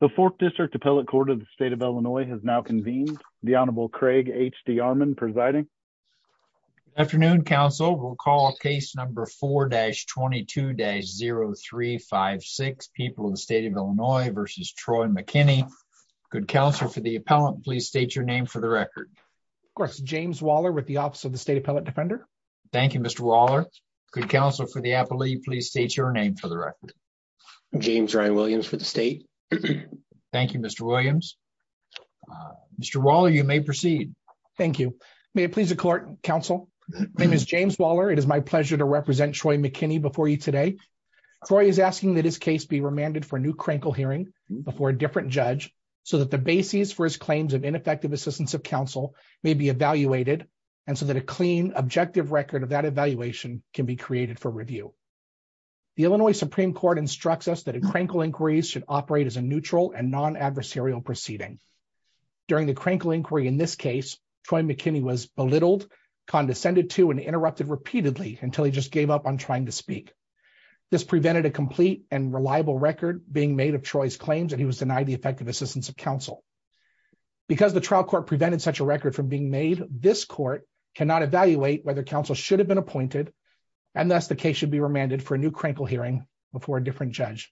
The 4th District Appellate Court of the State of Illinois has now convened. The Honorable Craig H.D. Armond presiding. Afternoon, counsel. We'll call case number 4-22-0356, People of the State of Illinois v. Troy McKinney. Good counsel for the appellant, please state your name for the record. Of course, James Waller with the Office of the State Appellate Defender. Thank you, Mr. Waller. Good counsel for the appellee, please state your name for the record. James Ryan Williams for the state. Thank you, Mr. Williams. Mr. Waller, you may proceed. Thank you. May it please the court, counsel. My name is James Waller. It is my pleasure to represent Troy McKinney before you today. Troy is asking that his case be remanded for a new crankle hearing before a different judge so that the basis for his claims of ineffective assistance of counsel may be evaluated and so that a clean, objective record of that evaluation can be created for review. The Illinois Supreme Court instructs us that a crankle inquiry should operate as a neutral and non-adversarial proceeding. During the crankle inquiry in this case, Troy McKinney was belittled, condescended to, and interrupted repeatedly until he just gave up on trying to speak. This prevented a complete and reliable record being made of Troy's claims and he was denied the effective assistance of counsel. Because the trial court prevented such a record from being made, this court cannot evaluate whether counsel should have been appointed and thus the case should be remanded for a new crankle hearing before a different judge.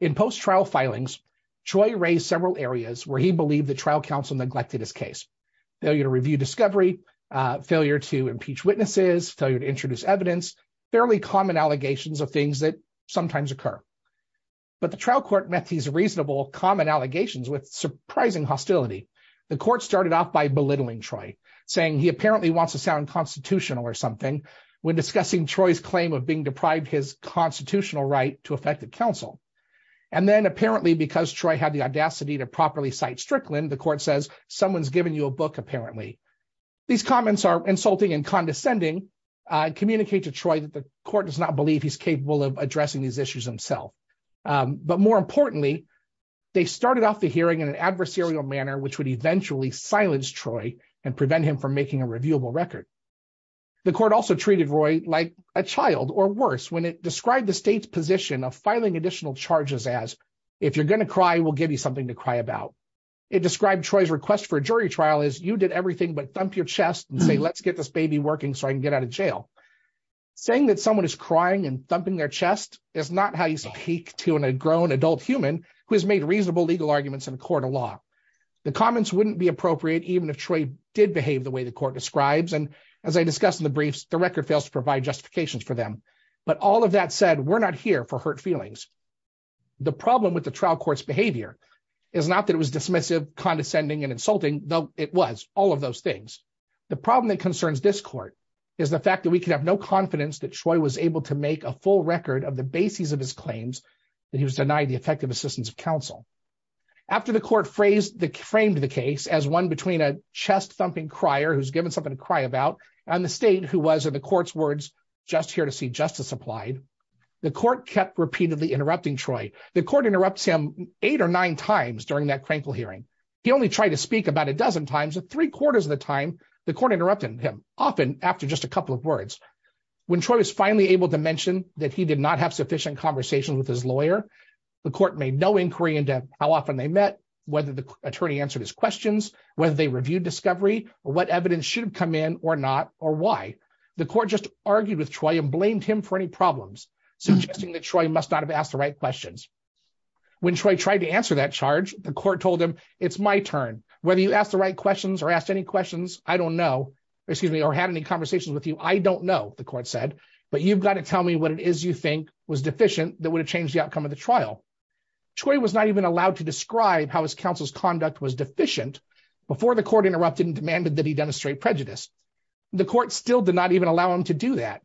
In post-trial filings, Troy raised several areas where he believed that trial counsel neglected his case. Failure to review discovery, failure to impeach witnesses, failure to introduce evidence, fairly common allegations of things that sometimes occur. But the trial court met these reasonable, common allegations with surprising hostility. The court started off by belittling Troy, saying he apparently wants to sound constitutional or something when discussing Troy's claim of being deprived his constitutional right to effective counsel. And then apparently because Troy had the audacity to properly cite Strickland, the court says someone's given you a book apparently. These comments are insulting and condescending, communicate to Troy that the court does not believe he's capable of addressing these issues himself. But more importantly, they started off the hearing in an adversarial manner, which would eventually silence Troy and prevent him from making a reviewable record. The court also treated Roy like a child or worse when it described the state's position of filing additional charges as, if you're going to cry, we'll give you something to cry about. It described Troy's request for a jury trial as you did everything but thump your chest and say, let's get this baby working so I can get out of jail. Saying that someone is crying and thumping their chest is not how you speak to an a grown adult human who has made reasonable legal arguments in a court of law. The comments wouldn't be appropriate, even if Troy did behave the way the court describes. And as I discussed in the briefs, the record fails to provide justifications for them. But all of that said, we're not here for hurt feelings. The problem with the trial court's behavior is not that it was dismissive, condescending and insulting, though it was all of those things. The problem that concerns this court is the fact that we can have no confidence that Troy was able to make a full record of the basis of his claims that he was denied the effective assistance of counsel. After the court framed the case as one between a chest-thumping crier who's given something to cry about and the state who was, in the court's words, just here to see justice applied, the court kept repeatedly interrupting Troy. The court interrupts him eight or nine times during that crankle hearing. He only tried to speak about a dozen times, but three quarters of the time, the court interrupted him, often after just a couple of words. When Troy was finally able to mention that he did not have sufficient conversation with his lawyer, the court made no inquiry into how often they met, whether the attorney answered his questions, whether they reviewed discovery, or what evidence should have come in or not, or why. The court just argued with Troy and blamed him for any problems, suggesting that Troy must not have asked the right questions. When Troy tried to answer that charge, the court told him, it's my turn. Whether you asked the right questions or asked any questions, I don't know, or had any conversations with you, I don't know, the court said, but you've got to tell me what it is you think was deficient that would have changed the outcome of the trial. Troy was not even allowed to describe how his counsel's conduct was deficient before the court interrupted and demanded that he demonstrate prejudice. The court still did not even allow him to do that,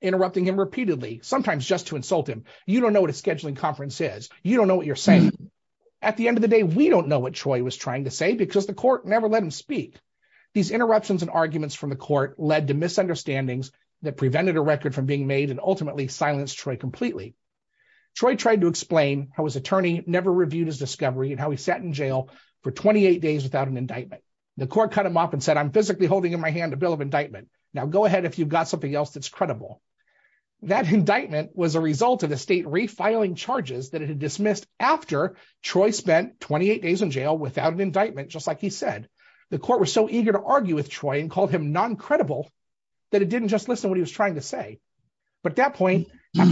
interrupting him repeatedly, sometimes just to insult him. You don't know what a scheduling conference is. You don't know what you're saying. At the end of the day, we don't know what Troy was trying to say because the court never let him speak. These interruptions and arguments from the court led to misunderstandings that prevented a record from being made and ultimately silenced Troy completely. Troy tried to explain how his attorney never reviewed his discovery and how he sat in jail for 28 days without an indictment. The court cut him off and said, I'm physically holding in my hand a bill of indictment. Now go ahead if you've got something else that's credible. That indictment was a result of the state refiling charges that it had dismissed after Troy spent 28 days in jail without an indictment, just like he said. The court was so eager to argue with Troy and called him non-credible that it didn't just listen to what he was trying to say. But at that point,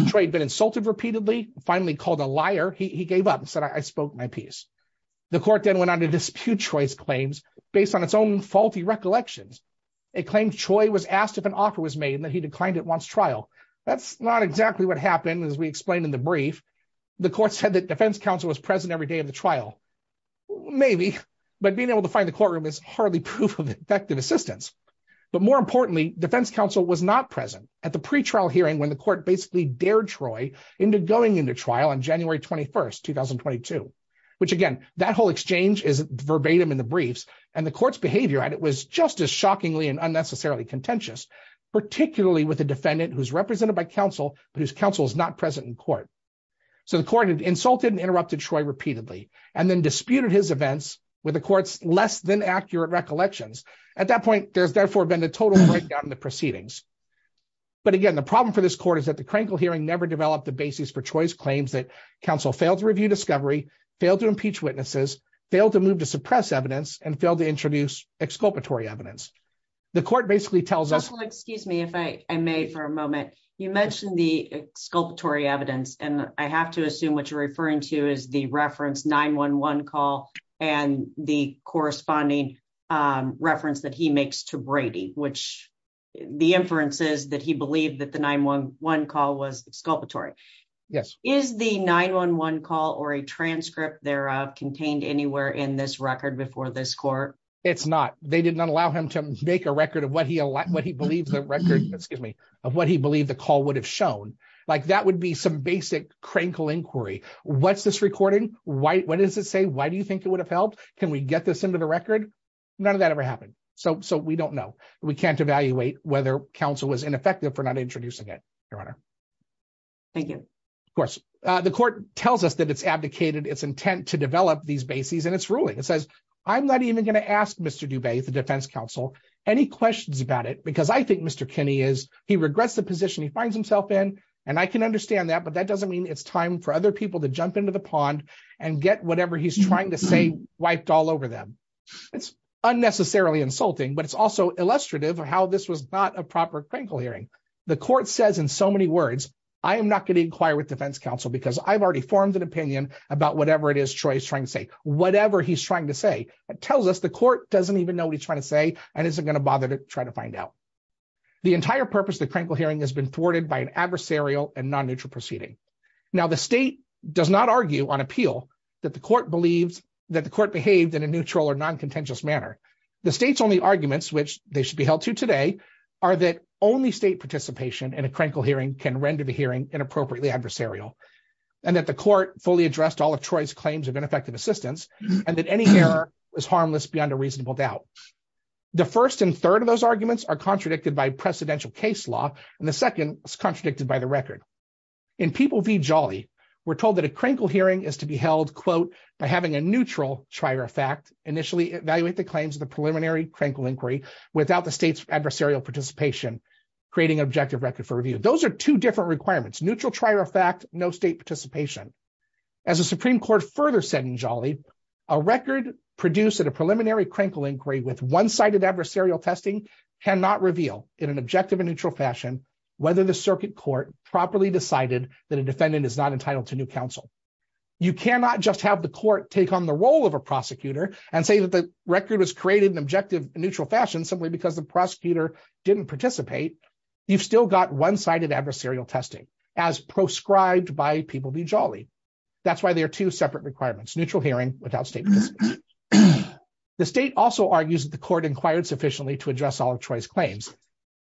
Troy had been insulted repeatedly, finally called a liar. He gave up and said, I spoke my piece. The court then went on to dispute Troy's claims based on its own faulty recollections. It claimed Troy was asked if an offer was made and that he declined it once trial. That's not exactly what happened, as we explained in the brief. The court said that defense counsel was present every day of the trial. Maybe, but being able to find the courtroom is hardly proof of effective assistance. But more importantly, defense counsel was not present at the pretrial hearing when the court basically dared Troy into going into trial on January 21st, 2022, which, again, that whole exchange is verbatim in the briefs. And the court's behavior at it was just as shockingly and unnecessarily contentious, particularly with a defendant who's represented by counsel, but whose counsel is not present in court. So the court had insulted and interrupted Troy repeatedly, and then disputed his events with the court's less than accurate recollections. At that point, there's therefore been a total breakdown in the proceedings. But again, the problem for this court is that the Krenkel hearing never developed the basis for Troy's claims that counsel failed to review discovery, failed to impeach witnesses, failed to move to suppress evidence, and failed to introduce exculpatory evidence. The court basically tells us... Excuse me if I may for a moment. You mentioned the exculpatory evidence, and I have to assume what you're referring to is the reference 911 call and the corresponding reference that he makes to Brady, which the inference is that he believed that the 911 call was exculpatory. Yes. Is the 911 call or a transcript thereof contained anywhere in this record before this court? It's not. They did not allow him to make a record of what he believes the call would have shown. That would be some basic Krenkel inquiry. What's this recording? What does it say? Why do you think it would have helped? Can we get this into the record? None of that ever happened. So we don't know. We can't evaluate whether counsel was ineffective for not introducing it, Your Honor. Thank you. Of course. The court tells us that it's abdicated its intent to develop these bases, and it's ruling. It says, I'm not even going to ask Mr. Dubay, the defense counsel, any questions about it, because I think Mr. Kinney is he regrets the position he finds himself in, and I can understand that, but that doesn't mean it's time for other people to jump into the pond and get whatever he's trying to say wiped all over them. It's unnecessarily insulting, but it's also illustrative of how this was not a proper Krenkel hearing. The court says in so many words, I am not going to inquire with defense counsel because I've already formed an opinion about whatever it is Troy is trying to say, whatever he's trying to say. It tells us the court doesn't even know what he's trying to say and isn't going to bother to try to find out. The entire purpose of the Krenkel hearing has been thwarted by an adversarial and non-neutral proceeding. Now, the state does not argue on appeal that the court believed that the court behaved in a neutral or non-contentious manner. The state's only arguments, which they should be held to today, are that only state participation in a Krenkel hearing can render the hearing inappropriately adversarial, and that the court fully addressed all of Troy's claims of ineffective assistance, and that any error is harmless beyond a reasonable doubt. The first and third of those arguments are contradicted by precedential case law, and the second is contradicted by the record. In People v. Jolly, we're told that a Krenkel hearing is to be held, quote, by having a neutral trier of fact initially evaluate the claims of the preliminary Krenkel inquiry without the state's adversarial participation, creating an objective record for review. Those are two different requirements, neutral trier of fact, no state participation. As the Supreme Court further said in Jolly, a record produced at a preliminary Krenkel inquiry with one-sided adversarial testing cannot reveal, in an objective and neutral fashion, whether the circuit court properly decided that a defendant is not entitled to new counsel. You cannot just have the court take on the role of a prosecutor and say that the record was created in an objective and neutral fashion simply because the prosecutor didn't participate. You've still got one-sided adversarial testing, as proscribed by People v. Jolly. That's why they are two separate requirements, neutral hearing without state participation. The state also argues that the court inquired sufficiently to address all of Troy's claims.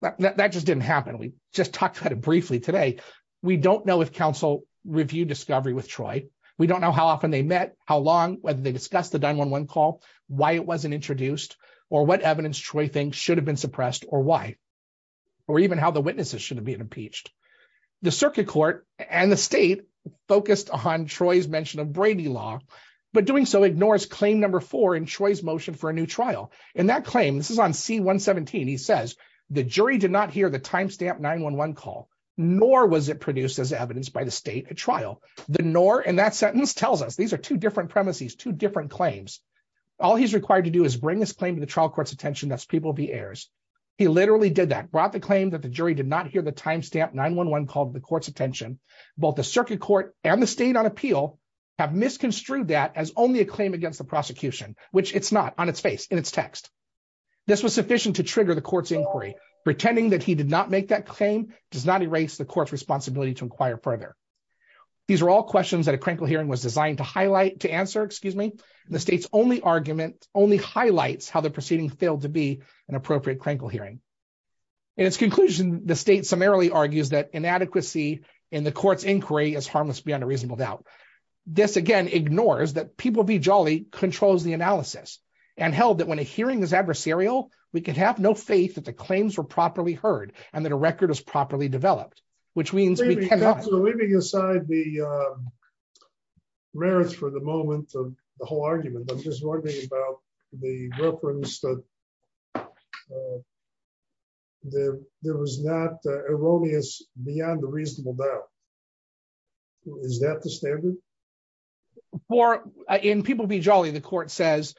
That just didn't happen. We just talked about it briefly today. We don't know if counsel reviewed discovery with Troy. We don't know how often they met, how long, whether they discussed the 911 call, why it wasn't introduced, or what evidence Troy thinks should have been suppressed or why, or even how the witnesses should have been impeached. The circuit court and the state focused on Troy's mention of Brady law, but doing so ignores claim number four in Troy's motion for a new trial. In that claim, this is on C-117, he says, the jury did not hear the timestamp 911 call, nor was it produced as evidence by the state at trial. The nor in that sentence tells us these are two different premises, two different claims. All he's required to do is bring this claim to the trial court's attention, that's People v. Ayers. He literally did that, brought the claim that the jury did not hear the timestamp 911 call to the court's attention. Both the circuit court and the state on appeal have misconstrued that as only a claim against the prosecution, which it's not, on its face, in its text. This was sufficient to trigger the court's inquiry. Pretending that he did not make that claim does not erase the court's responsibility to inquire further. These are all questions that a crinkle hearing was designed to highlight, to answer, excuse me, the state's only argument, only highlights how the proceeding failed to be an appropriate crinkle hearing. In its conclusion, the state summarily argues that inadequacy in the court's inquiry is harmless beyond a reasonable doubt. This, again, ignores that People v. Jolly controls the analysis and held that when a hearing is adversarial, we can have no faith that the claims were properly heard and that a record is properly developed, which means we cannot- So leaving aside the merits for the moment of the whole argument, I'm just wondering about the reference that there was not erroneous beyond a reasonable doubt. Is that the standard? In People v. Jolly, the court says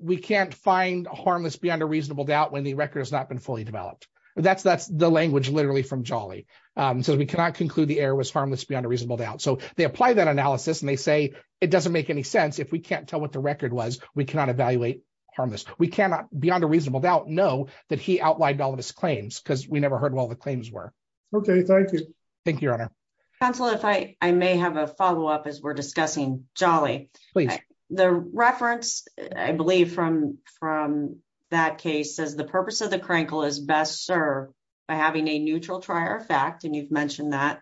we can't find harmless beyond a reasonable doubt when the record has not been fully developed. That's the language literally from Jolly. It says we cannot conclude the error was harmless beyond a reasonable doubt. So they apply that analysis and they say it doesn't make any sense. If we can't tell what the record was, we cannot evaluate harmless. We cannot beyond a reasonable doubt know that he outlined all of his claims because we never heard what all the claims were. Okay, thank you. Thank you, Your Honor. Counselor, if I may have a follow-up as we're discussing Jolly. Please. The reference, I believe, from that case says the purpose of the crankle is best served by having a neutral trier of fact, and you've mentioned that,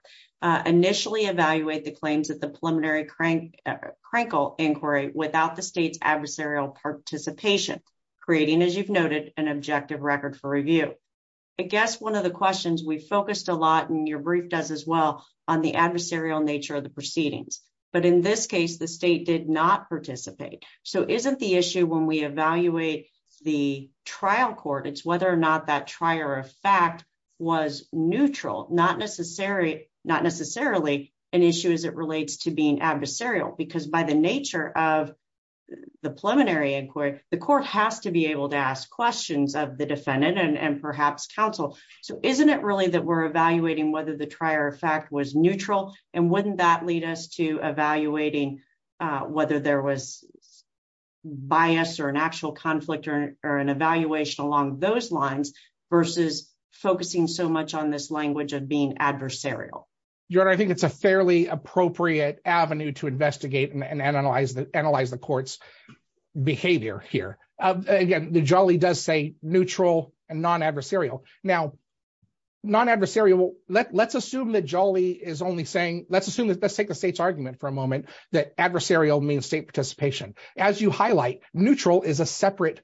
initially evaluate the claims of the preliminary crankle inquiry without the state's adversarial participation, creating, as you've noted, an objective record for review. I guess one of the questions we focused a lot, and your brief does as well, on the adversarial nature of the proceedings. But in this case, the state did not participate. So isn't the issue when we evaluate the trial court, it's whether or not that trier of fact was neutral, not necessarily an issue as it relates to being adversarial? Because by the nature of the preliminary inquiry, the court has to be able to ask questions of the defendant and perhaps counsel. So isn't it really that we're evaluating whether the trier of fact was neutral? And wouldn't that lead us to evaluating whether there was bias or an actual conflict or an evaluation along those lines versus focusing so much on this language of being adversarial? Your Honor, I think it's a fairly appropriate avenue to investigate and analyze the court's behavior here. Again, Jolly does say neutral and non-adversarial. Now, non-adversarial, let's assume that Jolly is only saying, let's assume, let's take the state's argument for a moment, that adversarial means state participation. As you highlight, neutral is a separate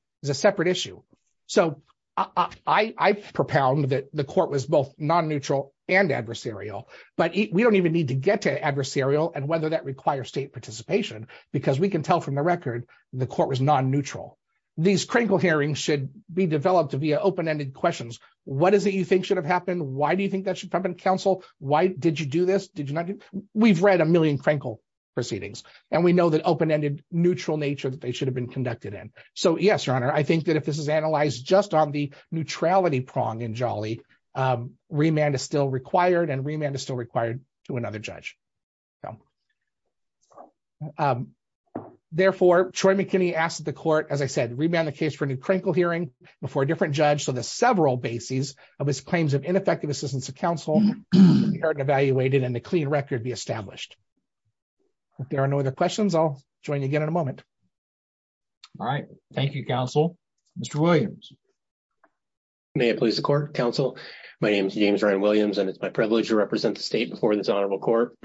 issue. So I propound that the court was both non-neutral and adversarial. But we don't even need to get to adversarial and whether that requires state participation, because we can tell from the record, the court was non-neutral. These Krenkel hearings should be developed via open-ended questions. What is it you think should have happened? Why do you think that should have been counsel? Why did you do this? Did you not do? We've read a million Krenkel proceedings, and we know that open-ended, neutral nature that they should have been conducted in. So yes, Your Honor, I think that if this is analyzed just on the neutrality prong in Jolly, remand is still required, and remand is still required to another judge. Therefore, Troy McKinney asked the court, as I said, remand the case for a new Krenkel hearing before a different judge so that several bases of his claims of ineffective assistance to counsel are evaluated and a clean record be established. If there are no other questions, I'll join you again in a moment. All right. Thank you, counsel. Mr. Williams. May it please the court, counsel. My name is James Ryan Williams, and it's my privilege to represent the state before this honorable court.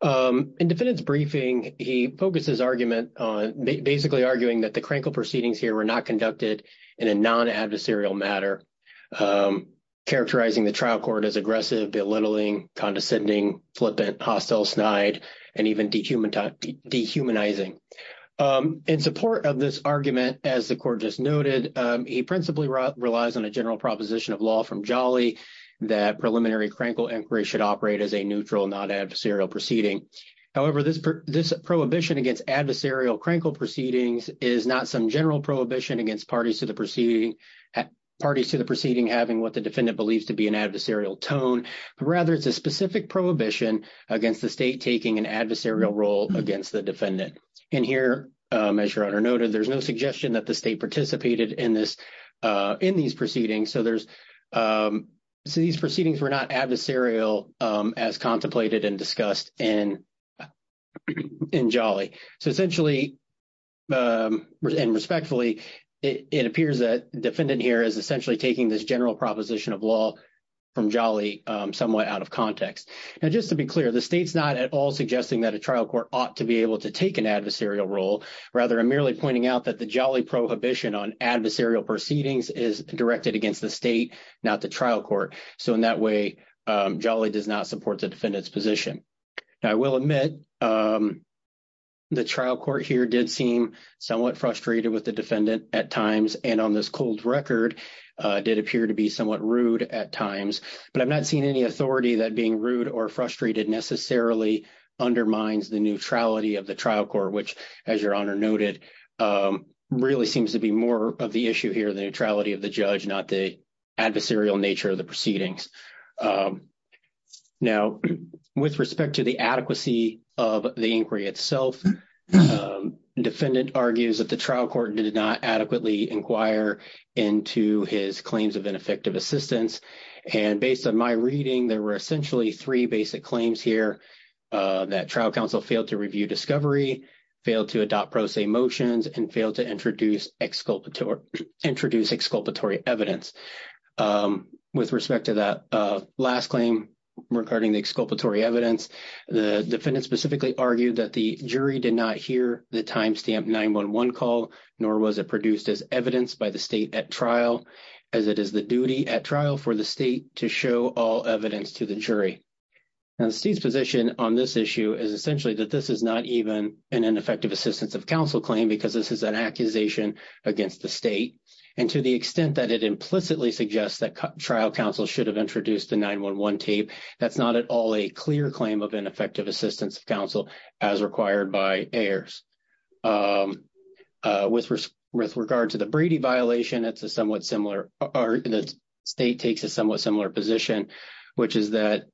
In defendant's briefing, he focuses argument on basically arguing that the Krenkel proceedings here were not conducted in a non-adversarial matter, characterizing the trial court as aggressive, belittling, condescending, flippant, hostile, snide, and even dehumanizing. In support of this argument, as the court just noted, he principally relies on a general proposition of law from Jolly that preliminary Krenkel inquiry should operate as a neutral, non-adversarial proceeding. However, this prohibition against adversarial Krenkel proceedings is not some general prohibition against parties to the proceeding having what the defendant believes to be an adversarial tone. Rather, it's a specific prohibition against the state taking an adversarial role against the defendant. And here, as your honor noted, there's no suggestion that the state participated in this – in these proceedings. So there's – so these proceedings were not adversarial as contemplated and discussed in Jolly. So essentially and respectfully, it appears that the defendant here is essentially taking this general proposition of law from Jolly somewhat out of context. Now, just to be clear, the state's not at all suggesting that a trial court ought to be able to take an adversarial role. Rather, I'm merely pointing out that the Jolly prohibition on adversarial proceedings is directed against the state, not the trial court. So in that way, Jolly does not support the defendant's position. Now, I will admit the trial court here did seem somewhat frustrated with the defendant at times, and on this cold record, did appear to be somewhat rude at times. But I'm not seeing any authority that being rude or frustrated necessarily undermines the neutrality of the trial court, which, as your honor noted, really seems to be more of the issue here, the neutrality of the judge, not the adversarial nature of the proceedings. Now, with respect to the adequacy of the inquiry itself, defendant argues that the trial court did not adequately inquire into his claims of ineffective assistance. And based on my reading, there were essentially three basic claims here, that trial counsel failed to review discovery, failed to adopt pro se motions, and failed to introduce exculpatory evidence. With respect to that last claim regarding the exculpatory evidence, the defendant specifically argued that the jury did not hear the timestamp 911 call, nor was it produced as evidence by the state at trial, as it is the duty at trial for the state to show all evidence to the jury. Now, the state's position on this issue is essentially that this is not even an ineffective assistance of counsel claim, because this is an accusation against the state. And to the extent that it implicitly suggests that trial counsel should have introduced the 911 tape, that's not at all a clear claim of ineffective assistance of counsel, as required by AERS. With regard to the Brady violation, it's a somewhat similar, or the state takes a somewhat similar position, which is that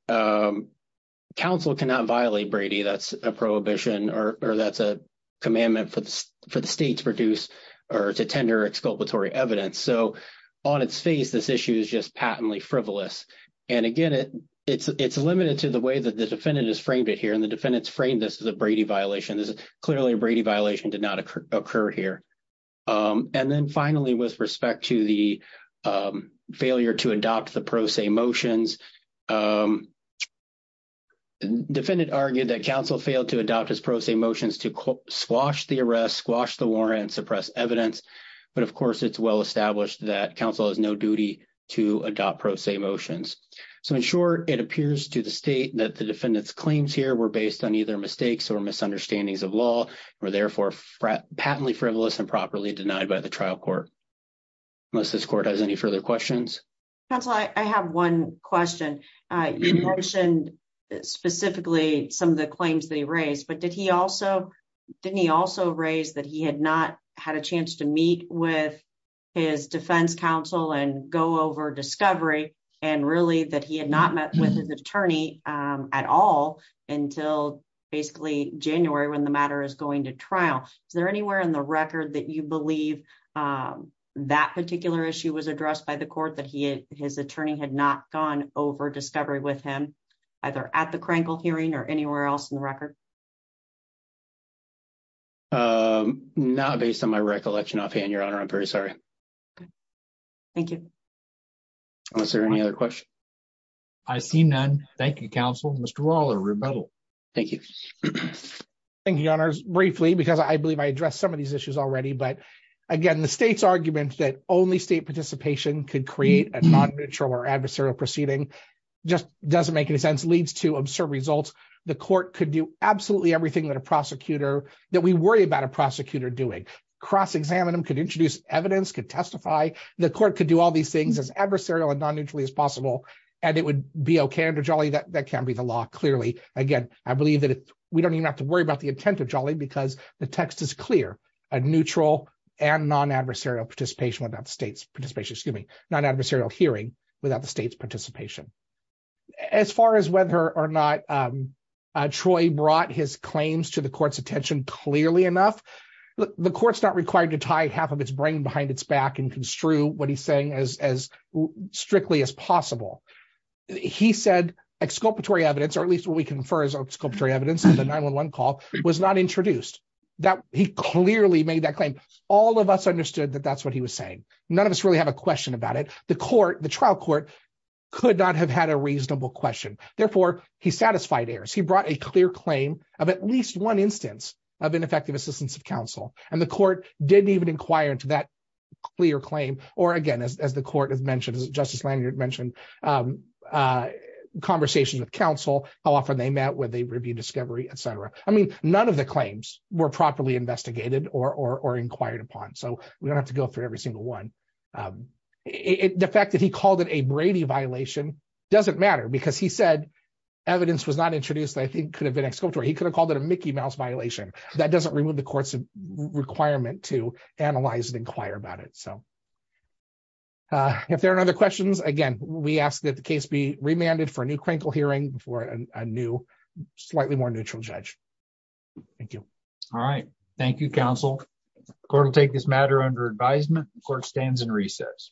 counsel cannot violate Brady. That's a prohibition, or that's a commandment for the state to produce or to tender exculpatory evidence. So on its face, this issue is just patently frivolous. And again, it's limited to the way that the defendant has framed it here, and the defendant's framed this as a Brady violation. This is clearly a Brady violation, did not occur here. And then finally, with respect to the failure to adopt the pro se motions, defendant argued that counsel failed to adopt his pro se motions to squash the arrest, squash the warrant, and suppress evidence. But of course, it's well established that counsel has no duty to adopt pro se motions. So in short, it appears to the state that the defendant's claims here were based on either mistakes or misunderstandings of law, or therefore patently frivolous and properly denied by the trial court. Unless this court has any further questions. Counsel, I have one question. You mentioned specifically some of the claims that he raised, but didn't he also raise that he had not had a chance to meet with his defense counsel and go over discovery, and really that he had not met with his attorney at all until basically January when the matter is going to trial. Is there anywhere in the record that you believe that particular issue was addressed by the court that his attorney had not gone over discovery with him, either at the Krenkel hearing or anywhere else in the record? Not based on my recollection offhand, Your Honor, I'm very sorry. Thank you. Is there any other questions? I see none. Thank you, counsel. Mr. Waller, rebuttal. Thank you. Thank you, Your Honors. Briefly, because I believe I addressed some of these issues already, but again, the state's argument that only state participation could create a non-neutral or adversarial proceeding just doesn't make any sense, leads to absurd results. The court could do absolutely everything that a prosecutor, that we worry about a prosecutor doing. Cross-examine them, could introduce evidence, could testify. The court could do all these things as adversarial and non-neutrally as possible, and it would be okay under Jolly that that can't be the law, clearly. Again, I believe that we don't even have to worry about the intent of Jolly because the text is clear. A neutral and non-adversarial participation without the state's participation, excuse me, non-adversarial hearing without the state's participation. As far as whether or not Troy brought his claims to the court's attention clearly enough, the court's not required to tie half of its brain behind its back and construe what he's saying as strictly as possible. He said exculpatory evidence, or at least what we can infer as exculpatory evidence in the 911 call, was not introduced. He clearly made that claim. All of us understood that that's what he was saying. None of us really have a question about it. The trial court could not have had a reasonable question. Therefore, he satisfied errors. He brought a clear claim of at least one instance of ineffective assistance of counsel, and the court didn't even inquire into that clear claim. Again, as the court has mentioned, as Justice Lanyard mentioned, conversations with counsel, how often they met, whether they reviewed discovery, et cetera. I mean, none of the claims were properly investigated or inquired upon, so we don't have to go through every single one. The fact that he called it a Brady violation doesn't matter because he said evidence was not introduced that I think could have been exculpatory. He could have called it a Mickey Mouse violation. That doesn't remove the court's requirement to analyze and inquire about it. If there are other questions, again, we ask that the case be remanded for a new clinical hearing for a new, slightly more neutral judge. Thank you. All right. Thank you, counsel. The court will take this matter under advisement. The court stands in recess.